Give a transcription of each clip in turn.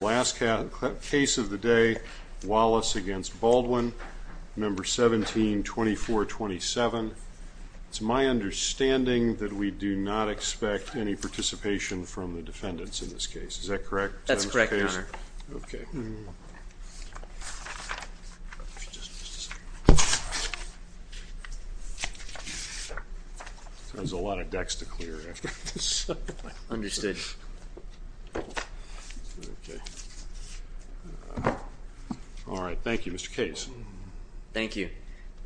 Last case of the day, Wallace against Baldwin, number 17-2427. It's my understanding that we do not expect any participation from the defendants in this case. Is that correct? That's correct, your honor. Okay. There's a lot of decks to clear after this. Understood. All right. Thank you, Mr. Case. Thank you.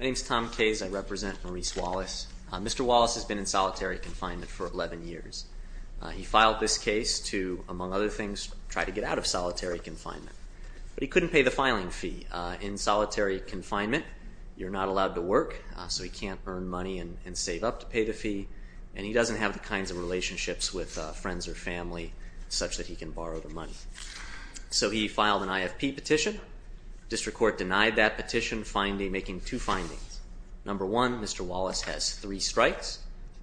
My name is Tom Case. I represent Maurice Wallace. Mr. Wallace has been in solitary confinement for 11 years. He filed this case to, among other things, try to get out of solitary confinement, but he couldn't pay the filing fee. In solitary confinement, you're not allowed to work, so he can't earn money and save up to pay the fee, and he doesn't have the kinds of relationships with friends or family such that he can borrow the money. So he filed an IFP petition. District Court denied that petition, making two findings. Number one, Mr. Wallace has three strikes.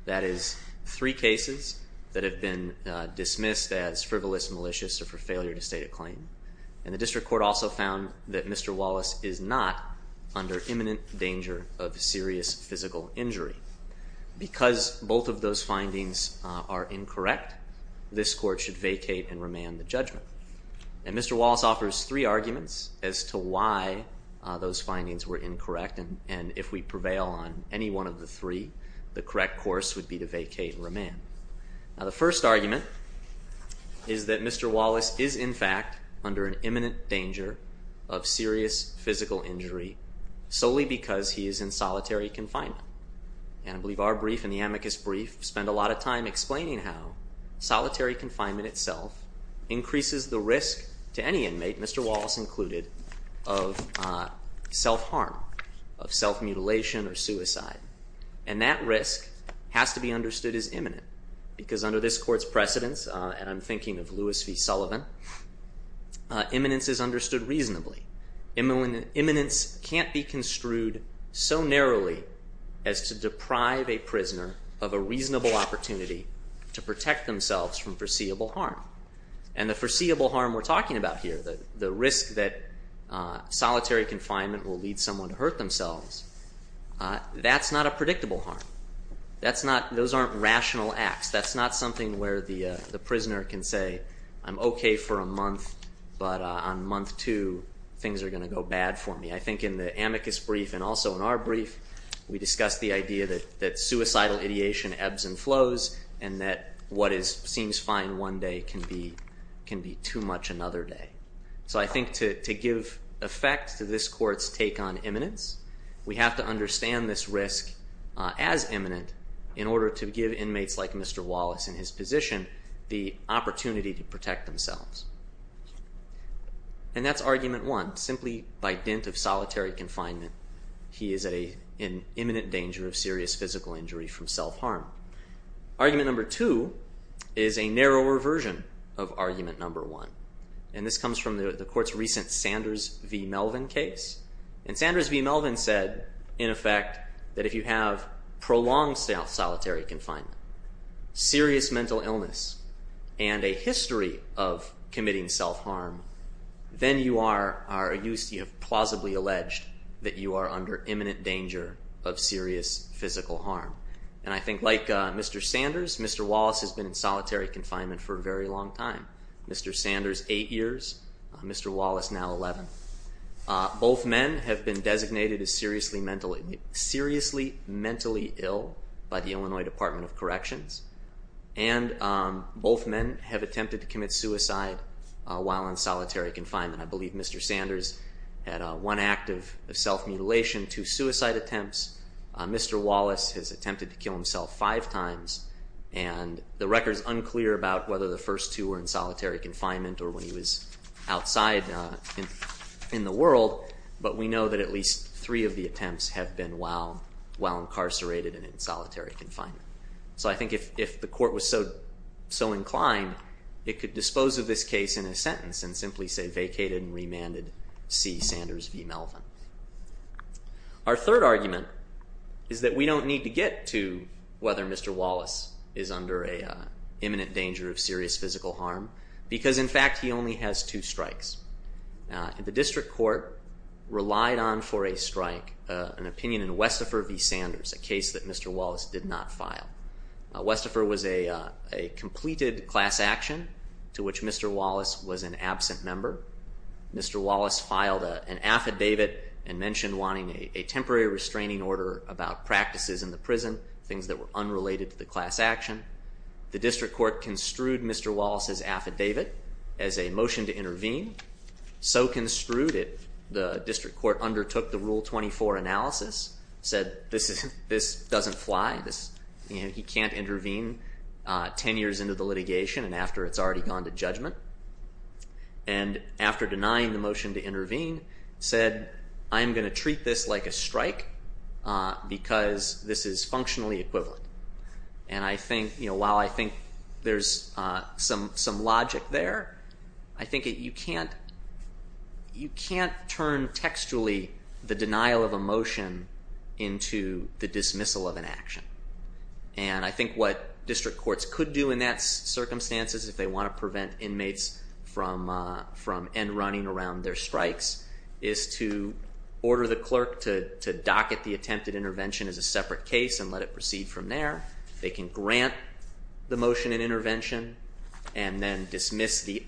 That is, three cases that have been dismissed as frivolous, malicious, or for failure to state a claim. And the District Court also found that Mr. Wallace is not under imminent danger of serious physical injury. Because both of those findings are incorrect, this Court should vacate and remand the judgment. And Mr. Wallace offers three arguments as to why those findings were incorrect, and if we prevail on any one of the three, the correct course would be to vacate and remand. Now, the first argument is that Mr. Wallace is, in fact, under an imminent danger of serious physical injury solely because he is in solitary confinement. And I believe our brief in the amicus brief spent a lot of time explaining how solitary confinement itself increases the risk to any inmate, Mr. Wallace included, of self-harm, of self-mutilation or suicide. And that risk has to be understood as imminent, because under this Court's precedence, and I'm thinking of Louis V. Sullivan, imminence is understood reasonably. Imminence can't be construed so narrowly as to deprive a prisoner of a reasonable opportunity to protect themselves from foreseeable harm. And the foreseeable harm we're talking about here, the risk that solitary confinement will lead someone to hurt themselves, that's not a predictable harm. Those aren't rational acts. That's not something where the prisoner can say, I'm okay for a month, but on month two, things are going to go bad for me. I think in the amicus brief and also in our brief, we discussed the idea that suicidal ideation ebbs and flows and that what seems fine one day can be too much another day. So I think to give effect to this Court's take on imminence, we have to understand this risk as imminent in order to give inmates like Mr. Wallace and his position the opportunity to protect themselves. And that's argument one. Simply by dint of solitary confinement, he is in imminent danger of serious physical injury from self-harm. Argument number two is a narrower version of argument number one. And this comes from the Court's recent Sanders v. Melvin case. And Sanders v. Melvin said, in effect, that if you have prolonged solitary confinement, serious mental illness, and a history of committing self-harm, then you have plausibly alleged that you are under imminent danger of serious physical harm. And I think like Mr. Sanders, Mr. Wallace has been in solitary confinement for a very long time. Mr. Sanders, eight years, Mr. Wallace now 11. Both men have been designated as seriously mentally ill by the Illinois Department of Corrections. And both men have attempted to commit suicide while in solitary confinement. I believe Mr. Sanders had one act of self-mutilation, two suicide attempts. Mr. Wallace has attempted to kill himself five times. And the record is unclear about whether the first two were in solitary confinement or when he was outside in the world. But we know that at least three of the attempts have been while incarcerated and in solitary confinement. So I think if the Court was so inclined, it could dispose of this case in a sentence and simply say vacated and remanded C. Sanders v. Melvin. Our third argument is that we don't need to get to whether Mr. Wallace is under an imminent danger of serious physical harm because, in fact, he only has two strikes. The District Court relied on for a strike an opinion in Westifer v. Sanders, a case that Mr. Wallace did not file. Westifer was a completed class action to which Mr. Wallace was an absent member. Mr. Wallace filed an affidavit and mentioned wanting a temporary restraining order about practices in the prison, things that were unrelated to the class action. The Court construed Mr. Wallace's affidavit as a motion to intervene. So construed, the District Court undertook the Rule 24 analysis, said this doesn't fly, he can't intervene ten years into the litigation and after it's already gone to judgment. And after denying the motion to intervene, said I'm going to treat this like a strike because this is functionally equivalent. And while I think there's some logic there, I think you can't turn textually the denial of a motion into the dismissal of an action. And I think what District Courts could do in that circumstances if they want to prevent inmates from end running around their strikes is to order the clerk to docket the attempted intervention as a separate case and let it proceed from there. They can grant the motion and intervention and then dismiss the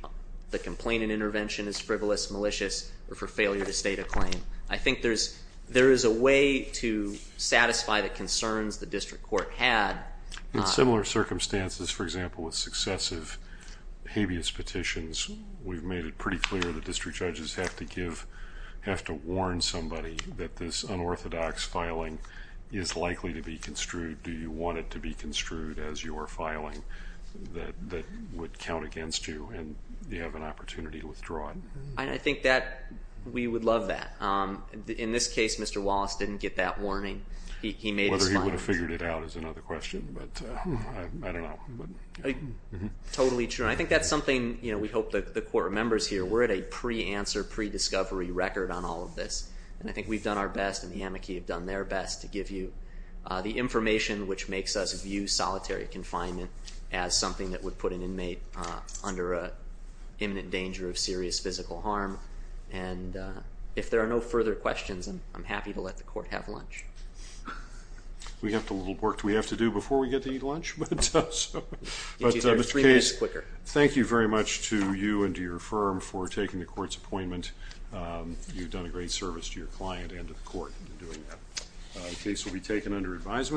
complaint and intervention as frivolous, malicious, or for failure to state a claim. I think there is a way to satisfy the concerns the District Court had. In similar circumstances, for example, with successive habeas petitions, we've made it pretty clear that District Judges have to warn somebody that this unorthodox filing is likely to be construed. Do you want it to be construed as your filing that would count against you and you have an opportunity to withdraw it? I think that we would love that. In this case, Mr. Wallace didn't get that warning. He made his filing. Whether he would have figured it out is another question, but I don't know. Totally true. I think that's something we hope that the Court remembers here. We're at a pre-answer, pre-discovery record on all of this, and I think we've done our best and the amici have done their best to give you the information which makes us view solitary confinement as something that would put an inmate under an imminent danger of serious physical harm. If there are no further questions, I'm happy to let the Court have lunch. We have a little work we have to do before we get to eat lunch, but Mr. Case, thank you very much to you and to your firm for taking the Court's appointment. You've done a great service to your client and to the Court in doing that. The case will be taken under advisement.